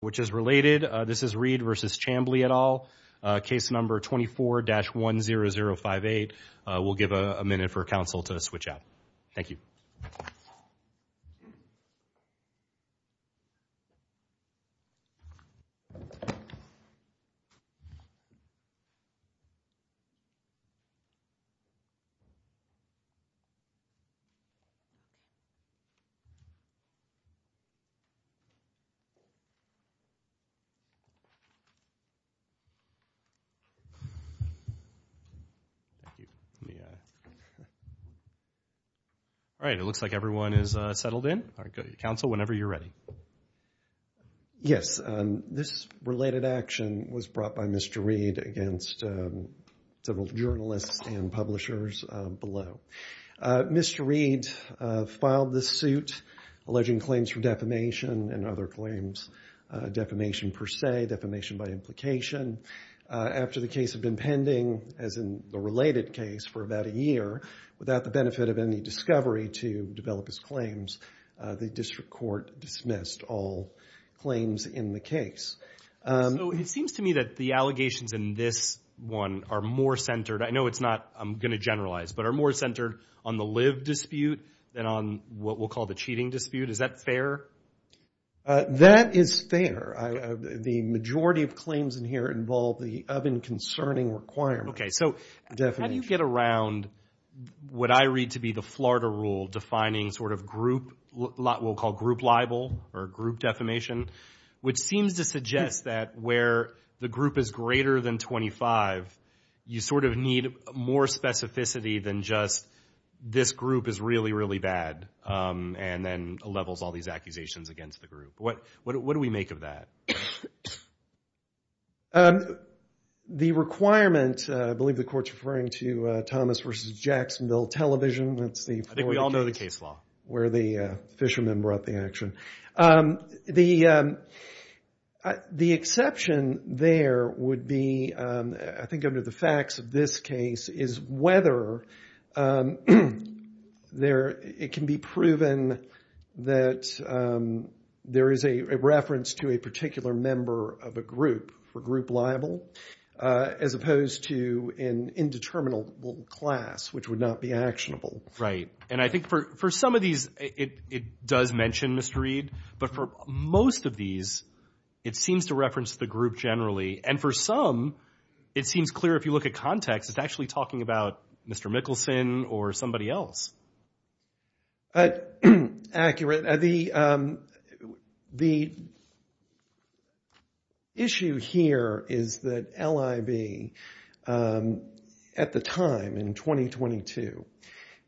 which is related. This is Reed v. Chamblee et al. Case number 24-10058. We'll give a minute for counsel to switch out. Thank you. All right, it looks like everyone is settled in. Counsel, whenever you're ready. Yes, this related action was brought by Mr. Reed against several journalists and publishers below. Mr. Reed filed this suit alleging claims for defamation and other claims. Defamation per se, defamation by implication. After the case had been pending, as in the related case, for about a year, without the benefit of any discovery to develop his claims, the district court dismissed all claims in the case. So it seems to me that the allegations in this one are more centered, I know it's not, I'm going to generalize, but are more centered on the than on what we'll call the cheating dispute. Is that fair? That is fair. The majority of claims in here involve the oven concerning requirement. Okay, so how do you get around what I read to be the Florida rule defining sort of group, we'll call group libel or group defamation, which seems to suggest that where the group is greater than 25, you sort of need more specificity than just this group is really, really bad and then levels all these accusations against the group. What do we make of that? The requirement, I believe the court's referring to Thomas versus Jacksonville television. I think we all know the case law. Where the fishermen brought the action. The exception there would be, I think under the facts of this case, is whether it can be proven that there is a reference to a particular member of a group for group libel, as opposed to an indeterminable class which would not be actionable. Right, and I think for some of these it does mention Mr. Reid, but for most of these it seems to reference the group generally, and for some it seems clear if you look at context, it's actually talking about Mr. Mickelson or somebody else. Accurate. The issue here is that LIB at the time in 2022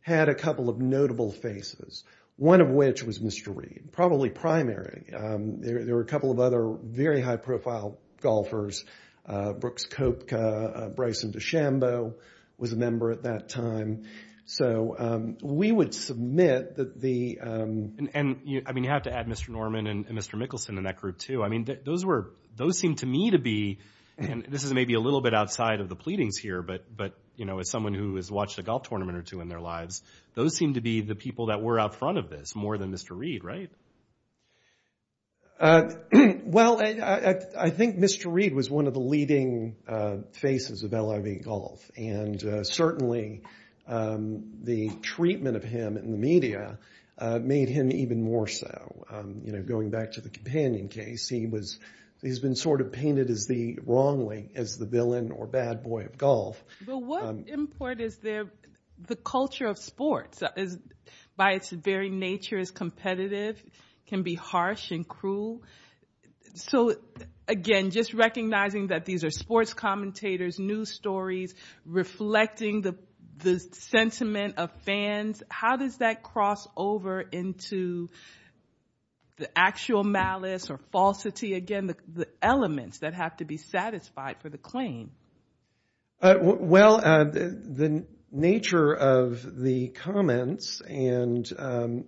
had a couple of notable faces, one of which was Mr. Reid, probably primary. There were a couple of other very high-profile golfers. Brooks Koepka, Bryson DeChambeau was a member at that time. So we would submit that the... And you have to add Mr. Norman and Mr. Mickelson in that group too. I mean those were, those seem to me to be, and this is maybe a little bit outside of the pleadings here, but you know as someone who has watched a golf tournament or two in their lives, those seem to be the people that were out front of this more than Mr. Reid, right? Well, I think Mr. Reid was one of the leading faces of LIB golf, and certainly the treatment of him in the media made him even more so. You know, going back to the Companion case, he was, he's been sort of painted as the wrong way, as the villain or bad boy of golf. But what import is there, the culture of sports is, by its very nature, is competitive, can be harsh and cruel. So again, just recognizing that these are sports commentators, news stories, reflecting the sentiment of fans, how does that cross over into the actual malice or falsity? Again, the elements that have to be satisfied for the claim. Well, the nature of the comments, and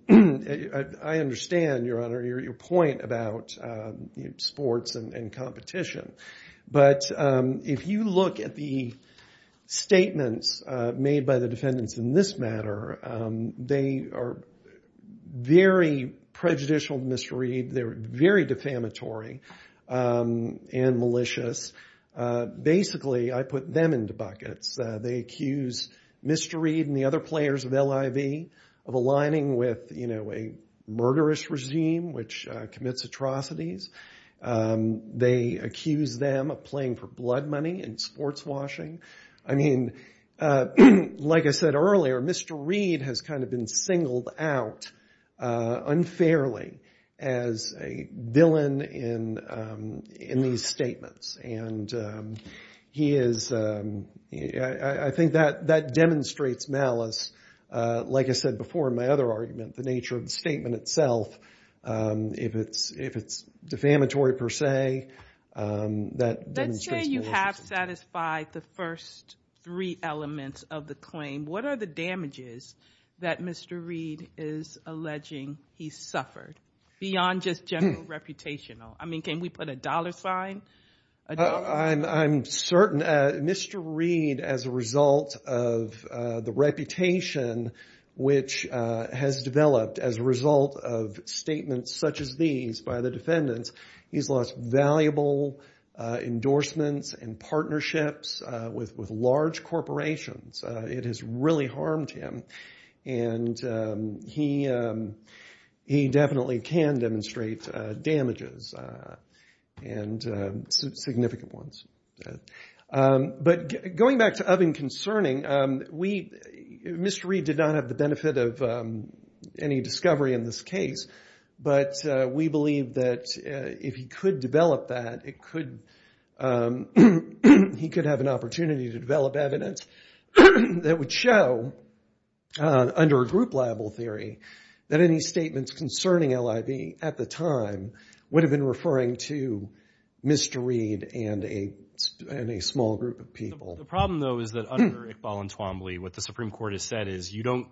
I understand, Your Honor, your point about sports and competition, but if you look at the statements made by the defendants in this matter, they are very prejudicial to Mr. Reid, they're very defamatory and malicious. Basically, I put them into buckets. They accuse Mr. Reid and the other players of LIB of aligning with, you know, a murderous regime which commits atrocities. They accuse them of playing for blood money and sports washing. I mean, like I said earlier, Mr. Reid has kind of been singled out, unfairly, as a villain in these statements. And he is, I think that demonstrates malice. Like I said before in my other argument, the nature of the statement itself, if it's defamatory per se, that demonstrates maliciousness. Let's say you have satisfied the first three elements of the claim. What are the damages that Mr. Reid is alleging he suffered? Beyond just general reputational. I mean, can we put a dollar sign? I'm certain Mr. Reid, as a result of the reputation which has developed as a result of statements such as these by the defendants, he's lost valuable endorsements and partnerships with large corporations. It has really harmed him and he definitely can demonstrate damages and significant ones. But going back to of and concerning, Mr. Reid did not have the benefit of any discovery in this case, but we believe that if he developed that, he could have an opportunity to develop evidence that would show, under a group liable theory, that any statements concerning LIB at the time would have been referring to Mr. Reid and a small group of people. The problem though is that under Iqbal and Twombly, what the Supreme Court has said is you don't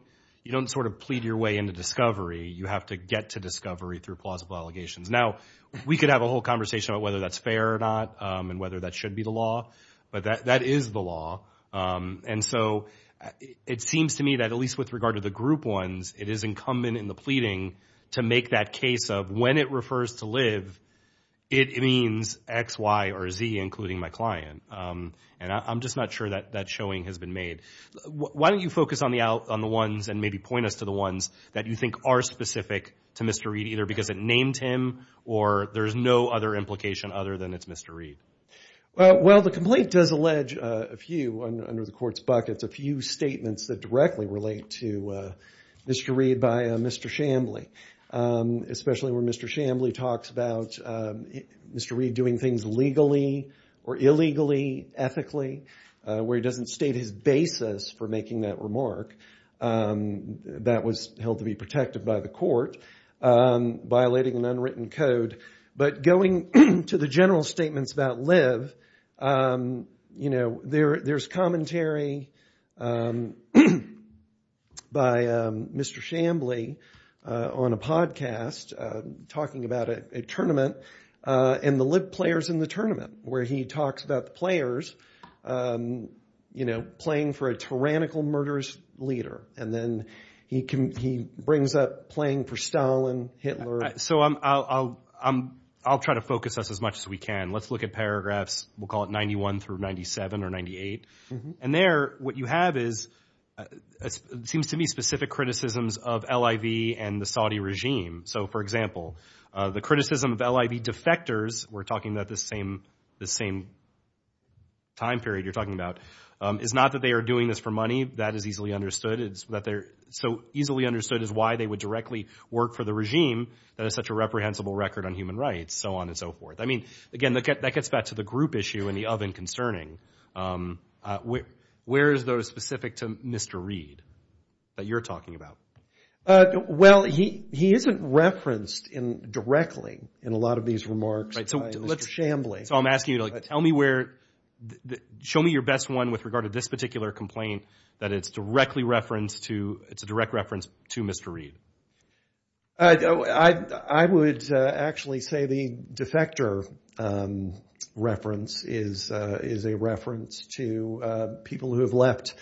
sort of plead your way into discovery. You have to get to discovery through plausible allegations. Now, we could have a whole conversation about whether that's fair or not and whether that should be the law, but that is the law. And so it seems to me that at least with regard to the group ones, it is incumbent in the pleading to make that case of when it refers to LIB, it means X, Y, or Z, including my client. And I'm just not sure that that showing has been made. Why don't you focus on the ones and maybe point us to the ones that you think are specific to Mr. Reid, either because it named him or there's no other implication other than it's Mr. Reid? Well, the complaint does allege a few under the court's buckets, a few statements that directly relate to Mr. Reid by Mr. Shambly, especially where Mr. Shambly talks about Mr. Reid doing things legally or illegally, ethically, where he doesn't state his basis for making that remark that was going to be protected by the court, violating an unwritten code. But going to the general statements about LIB, you know, there's commentary by Mr. Shambly on a podcast talking about a tournament and the LIB players in the tournament, where he talks about the players, you know, playing for a tyrannical murderous leader. And then he brings up playing for Stalin, Hitler. So I'll try to focus us as much as we can. Let's look at paragraphs, we'll call it 91 through 97 or 98. And there, what you have is, it seems to be specific criticisms of LIB and the Saudi regime. So for example, the criticism of LIB defectors, we're talking about the same time period you're talking about, is not that they are doing this for money, that is easily understood. It's that they're so easily understood is why they would directly work for the regime that has such a reprehensible record on human rights, so on and so forth. I mean, again, that gets back to the group issue and the oven concerning. Where is those specific to Mr. Reid that you're talking about? Well, he isn't referenced in directly in a lot of these remarks by Mr. Shambly. So I'm asking you to tell me where, show me your best one with regard to this particular complaint that it's directly referenced to, it's a direct reference to Mr. Reid. I would actually say the defector reference is a reference to people who have left,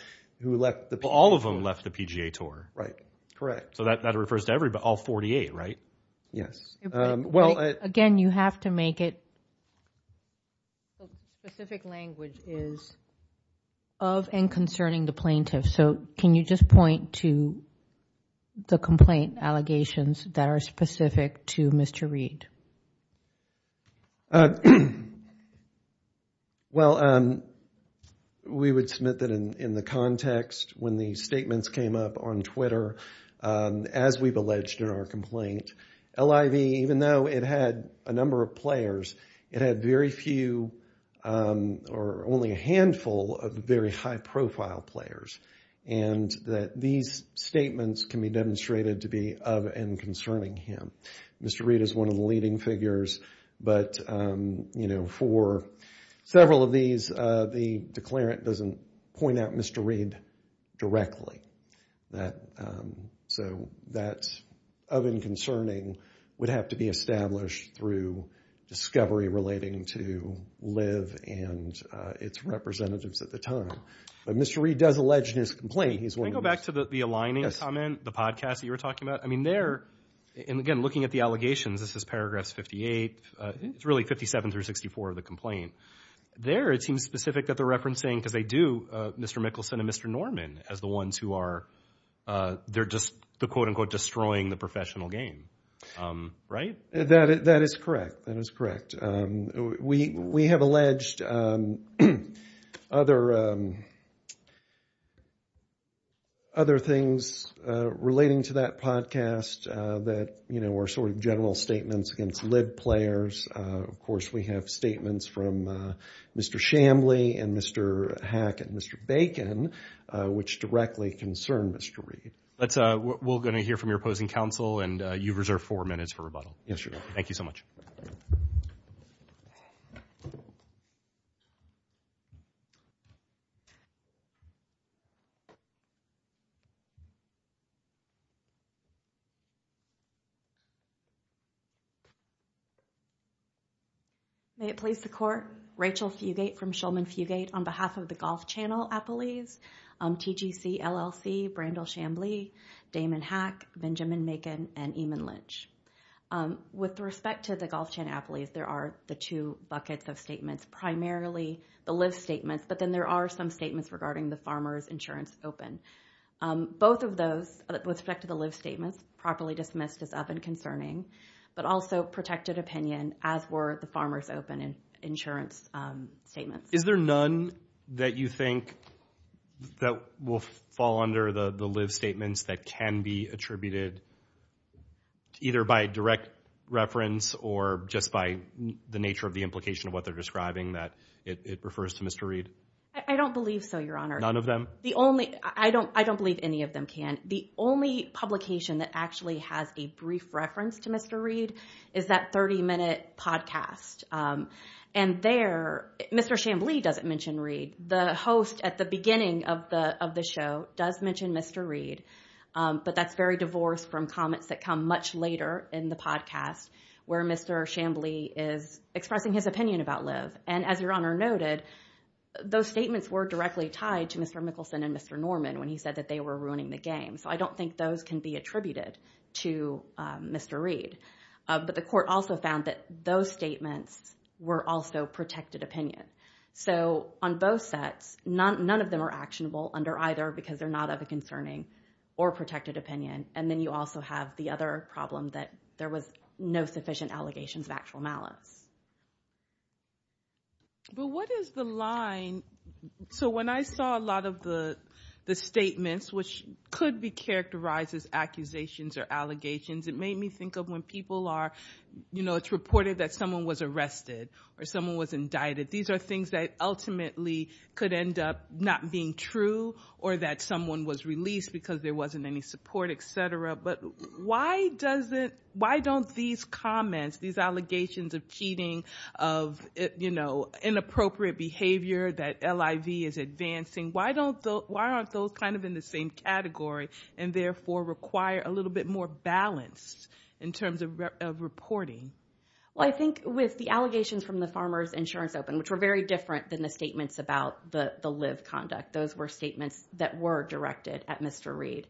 who left the PGA Tour. All of them left the PGA Tour. Right, correct. So that refers to everybody, all 48, right? Yes. Again, you have to make it, the specific language is of and concerning the plaintiff. So can you just point to the complaint allegations that are specific to Mr. Reid? Well, we would submit that in the context when the statements came up on Twitter, as we've alleged in our complaint, LIV, even though it had a number of players, it had very few or only a handful of very high profile players. And that these statements can be demonstrated to be of and concerning him. Mr. Reid is one of the leading figures, but for several of these, the declarant doesn't point out Mr. Reid directly. So that's of and concerning would have to be established through discovery relating to LIV and its representatives at the time. But Mr. Reid does allege in his complaint, he's one of the most- Can I go back to the aligning comment, the podcast that you were talking about? I mean, there, and again, looking at the allegations, this is paragraphs 58, it's really 57 through 64 of the complaint. There, it seems specific that they're referencing, because they do, Mr. Mickelson and Mr. Norman as the ones who are, they're just the, quote unquote, destroying the professional game, right? That is correct. That is correct. We have alleged other things relating to that podcast that were sort of general statements against LIV players. Of course, we have statements from Mr. Shambly and Mr. Hack and Mr. Bacon, which directly concern Mr. Reid. Let's, we're going to hear from your opposing counsel, and you've reserved four minutes for rebuttal. Yes, Your Honor. Thank you so much. May it please the court, Rachel Fugate from Shulman Fugate, on behalf of the Golf Channel Appellees, TGC, LLC, Brandel Shambly, Damon Hack, Benjamin Macon, and Eamon Lynch. With respect to the Golf Channel Appellees, there are the two buckets of statements, primarily the LIV statements, but then there are some statements regarding the Farmers Insurance Open. Both of those, with respect to the LIV statements, properly dismissed as of and but also protected opinion, as were the Farmers Open Insurance statements. Is there none that you think that will fall under the LIV statements that can be attributed either by direct reference or just by the nature of the implication of what they're describing, that it refers to Mr. Reid? I don't believe so, Your Honor. None of them? The only, I don't believe any of them can. The only publication that actually has a brief reference to Mr. Reid is that 30-minute podcast. And there, Mr. Shambly doesn't mention Reid. The host at the beginning of the show does mention Mr. Reid, but that's very divorced from comments that come much later in the podcast, where Mr. Shambly is expressing his opinion about LIV. And as Your Honor noted, those statements were directly tied to Mr. Mickelson and Mr. Norman when he said that they were ruining the game. So I don't think those can be attributed to Mr. Reid. But the court also found that those statements were also protected opinion. So on both sets, none of them are actionable under either because they're not of a concerning or protected opinion. And then you also have the other problem that there was no sufficient allegations of actual malice. But what is the line? So when I saw a lot of the statements, which could be characterized as accusations or allegations, it made me think of when people are, you know, it's reported that someone was arrested or someone was indicted. These are things that ultimately could end up not being true or that someone was released because there wasn't any support, et cetera. But why doesn't, why don't these comments, these allegations of cheating, of, you know, inappropriate behavior that LIV is advancing, why don't those, why aren't those kind of in the same category and therefore require a little bit more balance in terms of reporting? Well, I think with the allegations from the Farmers Insurance Open, which were very different than the statements about the live conduct, those were statements that were directed at Mr. Reid.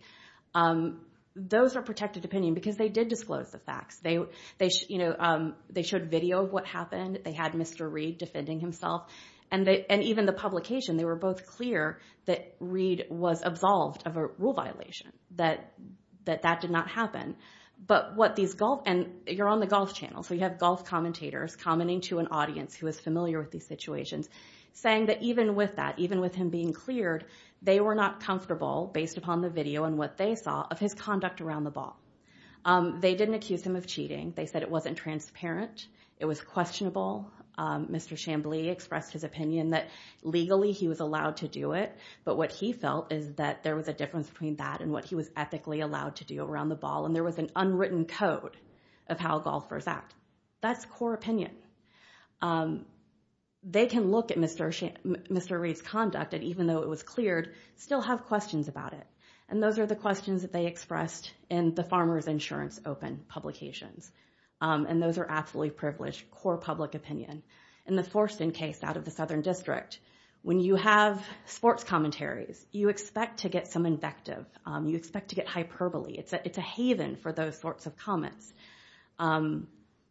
Those are protected opinion because they did disclose the facts. You know, they showed video of what happened. They had Mr. Reid defending himself. And even the publication, they were both clear that Reid was absolved of a rule violation, that that did not happen. But what these golf, and you're on the golf channel, so you have golf commentators commenting to an audience who is familiar with these situations, saying that even with that, even with him being cleared, they were not comfortable based upon the video and what they saw of his conduct around the ball. They didn't accuse him of cheating. They said it wasn't transparent. It was questionable. Mr. Chamblee expressed his opinion that legally he was allowed to do it. But what he felt is that there was a difference between that and what he was ethically allowed to do around the ball. And there was an unwritten code of how golfers act. That's core opinion. They can look at Mr. Reid's conduct, and even though it was cleared, still have questions about it. And those are the questions that they expressed in the Farmer's Insurance Open publications. And those are absolutely privileged, core public opinion. In the Forston case out of the Southern District, when you have sports commentaries, you expect to get some invective. You expect to get hyperbole. It's a haven for those sorts of comments.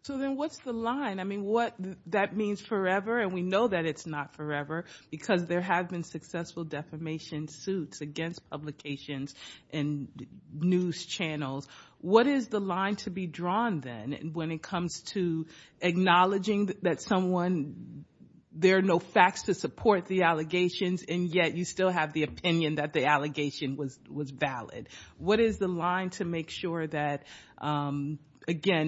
So then what's the line? I mean, what that means forever, and we know that it's not forever, because there have been successful defamation suits against publications and news channels. What is the line to be drawn then when it comes to acknowledging that someone, there are no facts to support the allegations, and yet you still have the opinion that the allegation was valid? What is the line to make sure that, again,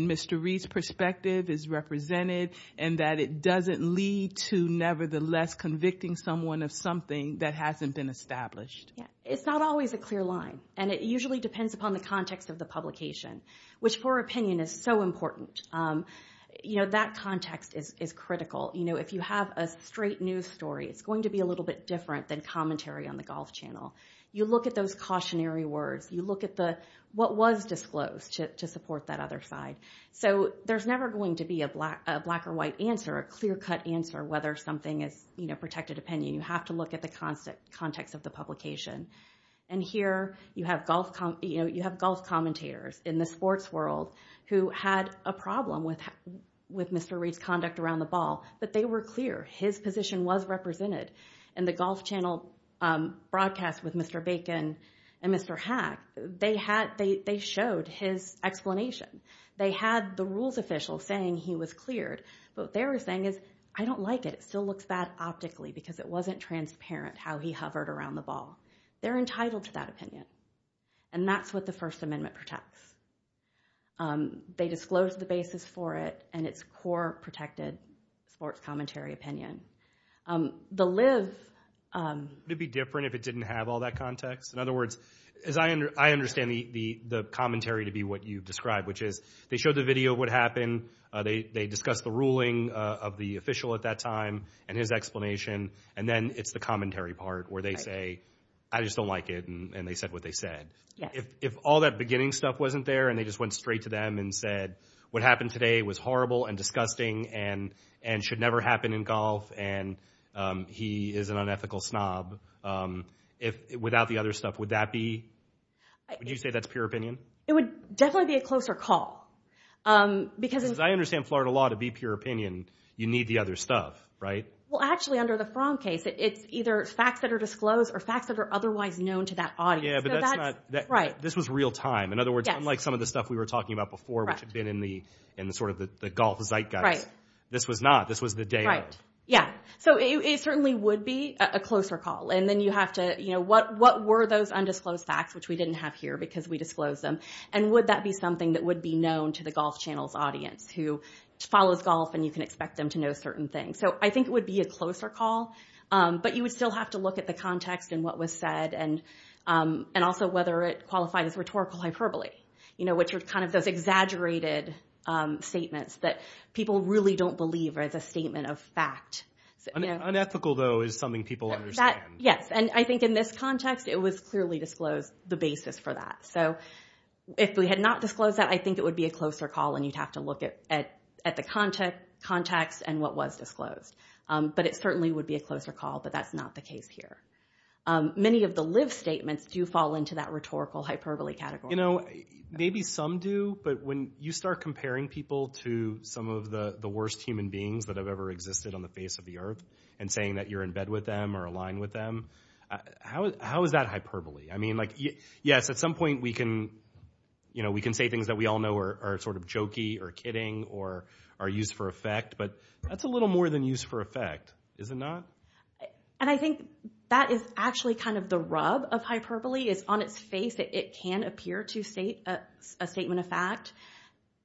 Mr. Reid's perspective is represented, and that it doesn't lead to, nevertheless, convicting someone of something that hasn't been established? Yeah, it's not always a clear line, and it usually depends upon the context of the publication, which for opinion is so important. You know, that context is critical. You know, if you have a straight news story, it's going to be a little bit different than commentary on the golf channel. You look at those cautionary words. You look at what was disclosed to support that other side. So there's never going to be a black or white answer, a clear-cut answer, whether something is protected opinion. You have to look at the context of the publication, and here you have golf commentators in the sports world who had a problem with Mr. Reid's conduct around the ball, but they were clear. His position was represented in the golf channel broadcast with Mr. Bacon and Mr. Hack. They showed his explanation. They had the rules official saying he was cleared, but what they were saying is, I don't like it. It still looks bad optically because it wasn't transparent how he hovered around the ball. They're entitled to that opinion, and that's what the First Amendment protects. They disclosed the basis for it and its core protected sports commentary opinion. The live... Would it be different if it didn't have all that context? In other words, I understand the commentary to be what you've described, they showed the video of what happened, they discussed the ruling of the official at that time and his explanation, and then it's the commentary part where they say, I just don't like it, and they said what they said. If all that beginning stuff wasn't there, and they just went straight to them and said, what happened today was horrible and disgusting and should never happen in golf, and he is an unethical snob, without the other stuff, would that be... Would you say that's pure opinion? It would definitely be a closer call, because... I understand Florida law to be pure opinion, you need the other stuff, right? Well, actually, under the Fromm case, it's either facts that are disclosed or facts that are otherwise known to that audience. Yeah, but that's not... Right. This was real time. In other words, unlike some of the stuff we were talking about before, which had been in the sort of the golf zeitgeist. Right. This was not. This was the day. Right. Yeah. So it certainly would be a closer call, and then you have to, you know, what were those undisclosed facts, which we didn't have here, because we disclosed them, and would that be something that would be known to the Golf Channel's audience, who follows golf, and you can expect them to know certain things. So I think it would be a closer call, but you would still have to look at the context and what was said, and also whether it qualified as rhetorical hyperbole, you know, which was kind of those exaggerated statements that people really don't believe as a statement of fact. Unethical, though, is something people understand. Yes, and I think in this context, it was clearly disclosed the basis for that. So if we had not disclosed that, I think it would be a closer call, and you'd have to look at the context and what was disclosed, but it certainly would be a closer call, but that's not the case here. Many of the live statements do fall into that rhetorical hyperbole category. You know, maybe some do, but when you start comparing people to some of the worst human beings that have ever existed on the face of the earth, and saying that you're in bed with them or aligned with them, how is that hyperbole? I mean, like, yes, at some point, we can, you know, we can say things that we all know are sort of jokey or kidding or are used for effect, but that's a little more than used for effect, is it not? And I think that is actually kind of the rub of hyperbole is on its face that it can appear to state a statement of fact,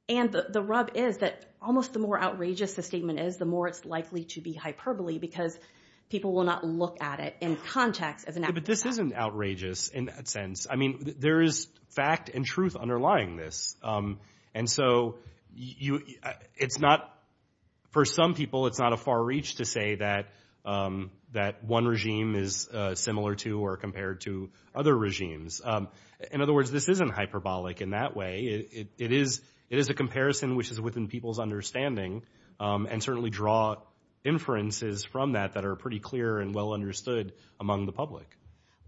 and the rub is that almost the more outrageous the statement is, the more it's likely to be hyperbole because people will not look at it in context as an act of fact. But this isn't outrageous in that sense. I mean, there is fact and truth underlying this. And so it's not, for some people, it's not a far reach to say that one regime is similar to or compared to other regimes. In other words, this isn't hyperbolic in that way. It is a comparison which is within people's understanding and certainly draw inferences from that that are pretty clear and well understood among the public.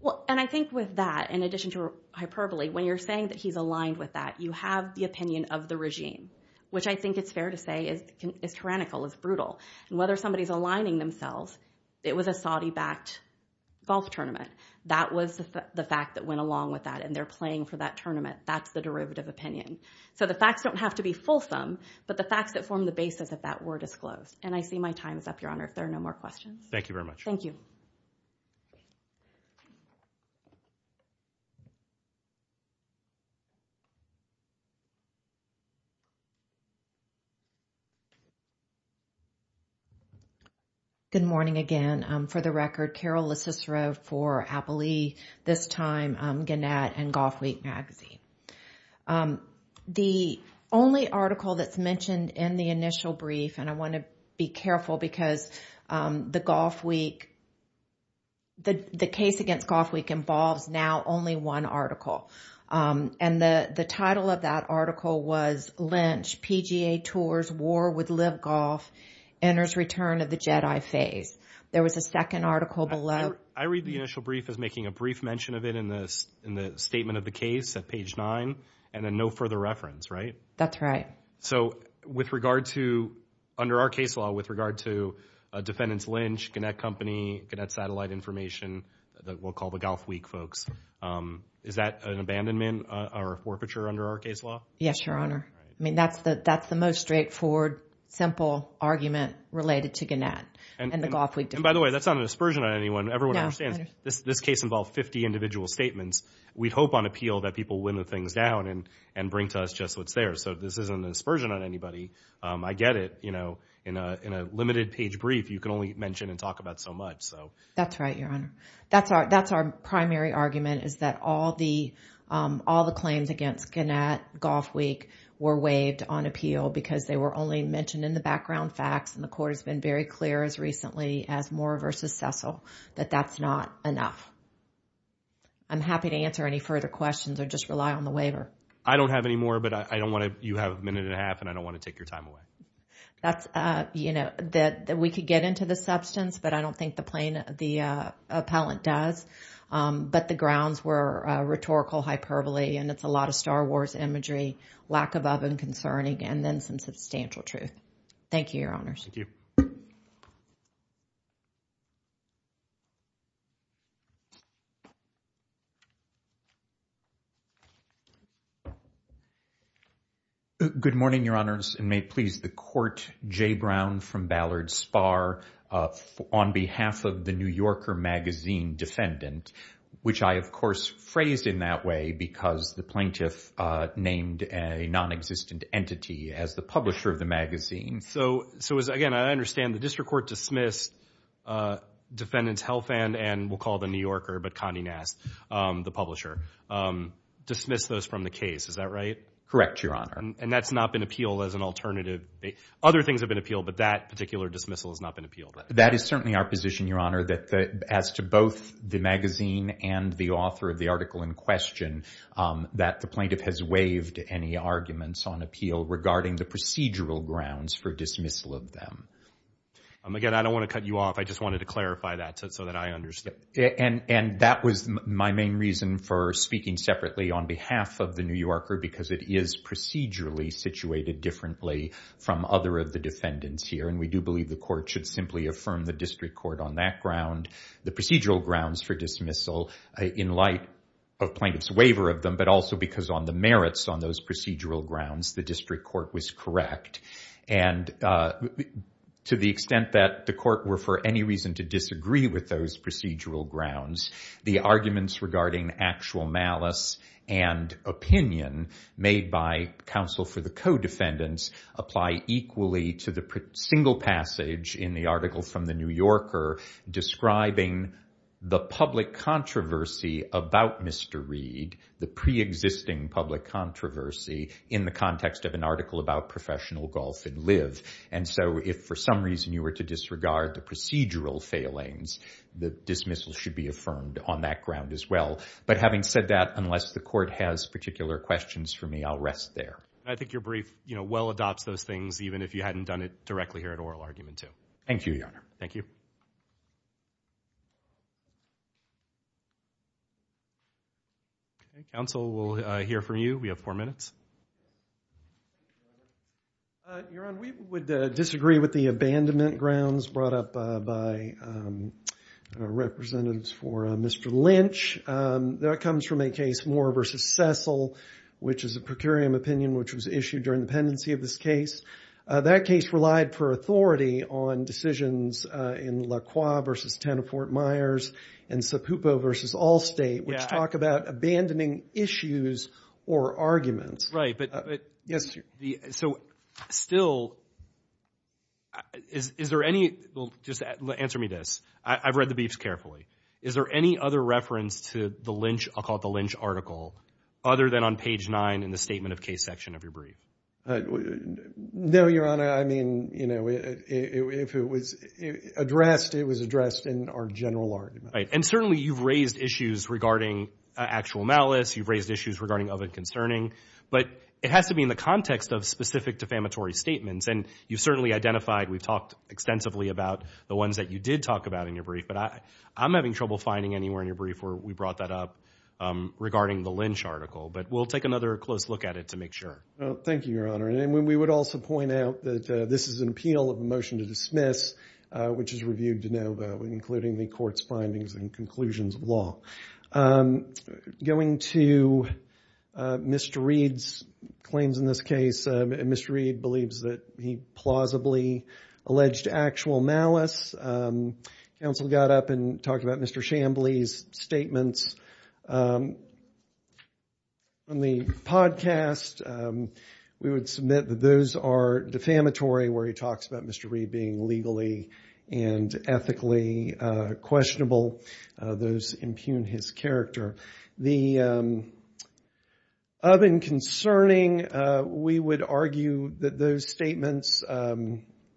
Well, and I think with that, in addition to hyperbole, when you're saying that he's aligned with that, you have the opinion of the regime, which I think it's fair to say is tyrannical, is brutal. And whether somebody's aligning themselves, it was a Saudi-backed golf tournament. That was the fact that went along with that and they're playing for that tournament. That's the derivative opinion. So the facts don't have to be fulsome, but the facts that form the basis of that were disclosed. And I see my time is up, Your Honor, if there are no more questions. Thank you very much. Thank you. Good morning again. For the record, Carol LeCicero for Apple E! This time, Gannett and Golf Week Magazine. The only article that's mentioned in the initial brief, and I want to be careful because the case against Golf Week involves now only one article. And the title of that article was Lynch PGA Tours War with Live Golf Enters Return of the Jedi Phase. There was a second article below. I read the initial brief as making a brief mention of it in the statement of the case at page nine and then no further reference, right? That's right. So with regard to, under our case law, with regard to defendants, Lynch, Gannett Company, Gannett Satellite Information, that we'll call the Golf Week folks. Is that an abandonment or a forfeiture under our case law? Yes, Your Honor. I mean, that's the most straightforward, simple argument related to Gannett and the Golf Week. By the way, that's not a dispersion on anyone. Everyone understands this case involved 50 individual statements. We hope on appeal that people limit things down and bring to us just what's there. So this isn't a dispersion on anybody. I get it, you know, in a limited page brief, you can only mention and talk about so much, so. That's right, Your Honor. That's our primary argument is that all the claims against Gannett, Golf Week, were waived on appeal because they were only mentioned in the background facts and the court has been very clear as recently as Moore versus Cecil, that that's not enough. I'm happy to answer any further questions or just rely on the waiver. I don't have any more, but I don't want to, you have a minute and a half and I don't want to take your time away. That's, you know, that we could get into the substance, but I don't think the plain, the appellant does. But the grounds were rhetorical hyperbole and it's a lot of Star Wars imagery, lack of oven concerning and then some substantial truth. Thank you, Your Honors. Thank you. Good morning, Your Honors, and may it please the court, Jay Brown from Ballard Spar on behalf of the New Yorker magazine defendant, which I, of course, phrased in that way because the plaintiff named a non-existent entity as the publisher of the magazine. So, again, I understand the district court dismissed defendant's health and we'll call the New Yorker, but Connie Nast, the publisher, dismissed those from the case. Is that right? Correct, Your Honor. And that's not been appealed as an alternative. Other things have been appealed, but that particular dismissal has not been appealed. That is certainly our position, Your Honor, that as to both the magazine and the author of the article in question, that the plaintiff has waived any arguments on appeal regarding the procedural grounds for dismissal of them. Again, I don't want to cut you off. I just wanted to clarify that so that I understand. And that was my main reason for speaking separately on behalf of the New Yorker because it is procedurally situated differently from other of the defendants here. And we do believe the court should simply affirm the district court on that ground, the procedural grounds for dismissal in light of plaintiff's waiver of them, but also because on the merits on those procedural grounds, the district court was correct. And to the extent that the court were for any reason to disagree with those procedural grounds, the arguments regarding actual malice and opinion made by counsel for the co-defendants apply equally to the single passage in the article from the New Yorker describing the public controversy about Mr. Reed, the pre-existing public controversy in the context of an article about professional golf and live. And so if for some reason you were to disregard the procedural failings, the dismissal should be affirmed on that ground as well. But having said that, unless the court has particular questions for me, I'll rest there. And I think your brief, you know, well adopts those things, even if you hadn't done it directly here at oral argument too. Thank you, Your Honor. Thank you. Counsel will hear from you. We have four minutes. Your Honor, we would disagree with the abandonment grounds brought up by representatives for Mr. Lynch. That comes from a case Moore v. Cecil, which is a per curiam opinion, which was issued during the pendency of this case. That case relied for authority on decisions in Lacroix v. Tanafort Myers and Sapupo v. Allstate, which talk about abandoning issues or arguments. Right, but. Yes, sir. So still, is there any, well, just answer me this. I've read the briefs carefully. Is there any other reference to the Lynch, I'll call it the Lynch article, other than on page nine in the statement of case section of your brief? No, Your Honor. I mean, you know, if it was addressed, it was addressed in our general argument. Right, and certainly you've raised issues regarding actual malice. You've raised issues regarding other concerning. But it has to be in the context of specific defamatory statements. And you've certainly identified, we've talked extensively about the ones that you did talk about in your brief. But I'm having trouble finding anywhere in your brief where we brought that up regarding the Lynch article. But we'll take another close look at it to make sure. Thank you, Your Honor. And we would also point out that this is an appeal of a motion to dismiss, which is reviewed to no vote, including the court's findings and conclusions of law. I'm going to Mr. Reed's claims in this case. Mr. Reed believes that he plausibly alleged actual malice. Counsel got up and talked about Mr. Shambly's statements. On the podcast, we would submit that those are defamatory where he talks about Mr. Reed being legally and ethically questionable. Those impugn his character. The other concerning, we would argue that those statements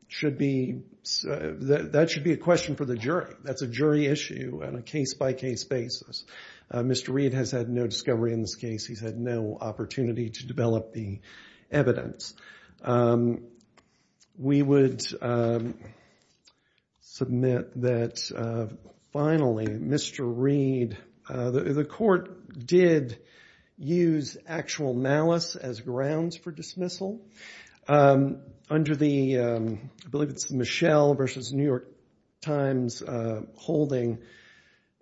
should be, that should be a question for the jury. That's a jury issue on a case-by-case basis. Mr. Reed has had no discovery in this case. He's had no opportunity to develop the evidence. We would submit that finally, Mr. Reed, the court did use actual malice as grounds for dismissal. Under the, I believe it's Michelle versus New York Times holding,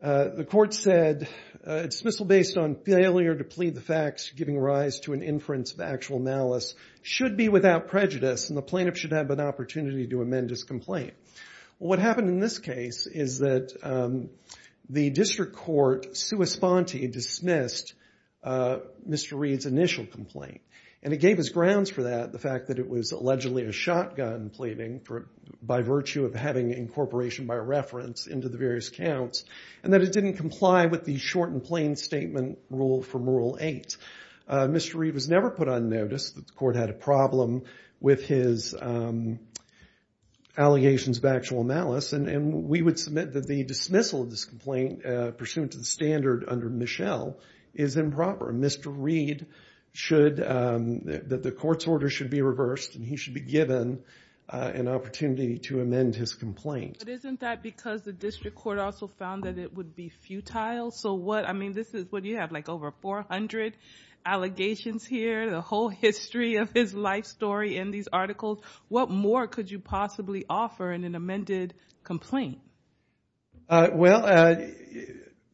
the court said dismissal based on failure to plead the facts, giving rise to an inference of actual malice should be without prejudice and the plaintiff should have an opportunity to amend his complaint. What happened in this case is that the district court sua sponte dismissed Mr. Reed's initial complaint and it gave us grounds for that. The fact that it was allegedly a shotgun pleading by virtue of having incorporation by reference into the various counts and that it didn't comply with the short and plain statement rule from rule eight. Mr. Reed was never put on notice that the court had a problem with his allegations of actual malice and we would submit that the dismissal of this complaint pursuant to the standard under Michelle is improper. Mr. Reed should, that the court's order should be reversed and he should be given an opportunity to amend his complaint. But isn't that because the district court also found that it would be futile? So what, I mean, this is what you have like over 400 allegations here, the whole history of his life story in these articles. What more could you possibly offer in an amended complaint? Well,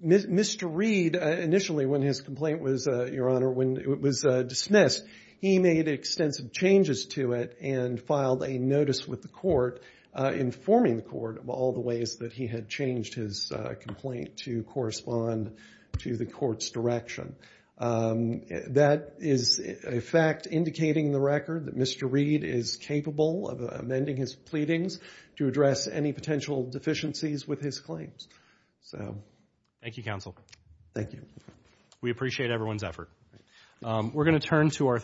Mr. Reed, initially when his complaint was, Your Honor, when it was dismissed, he made extensive changes to it and filed a notice with the court informing the court of all the ways that he had changed his complaint to correspond to the court's direction. That is a fact indicating the record that Mr. Reed is capable of amending his pleadings. To address any potential deficiencies with his claims, so. Thank you, counsel. Thank you. We appreciate everyone's effort. We're going to turn to our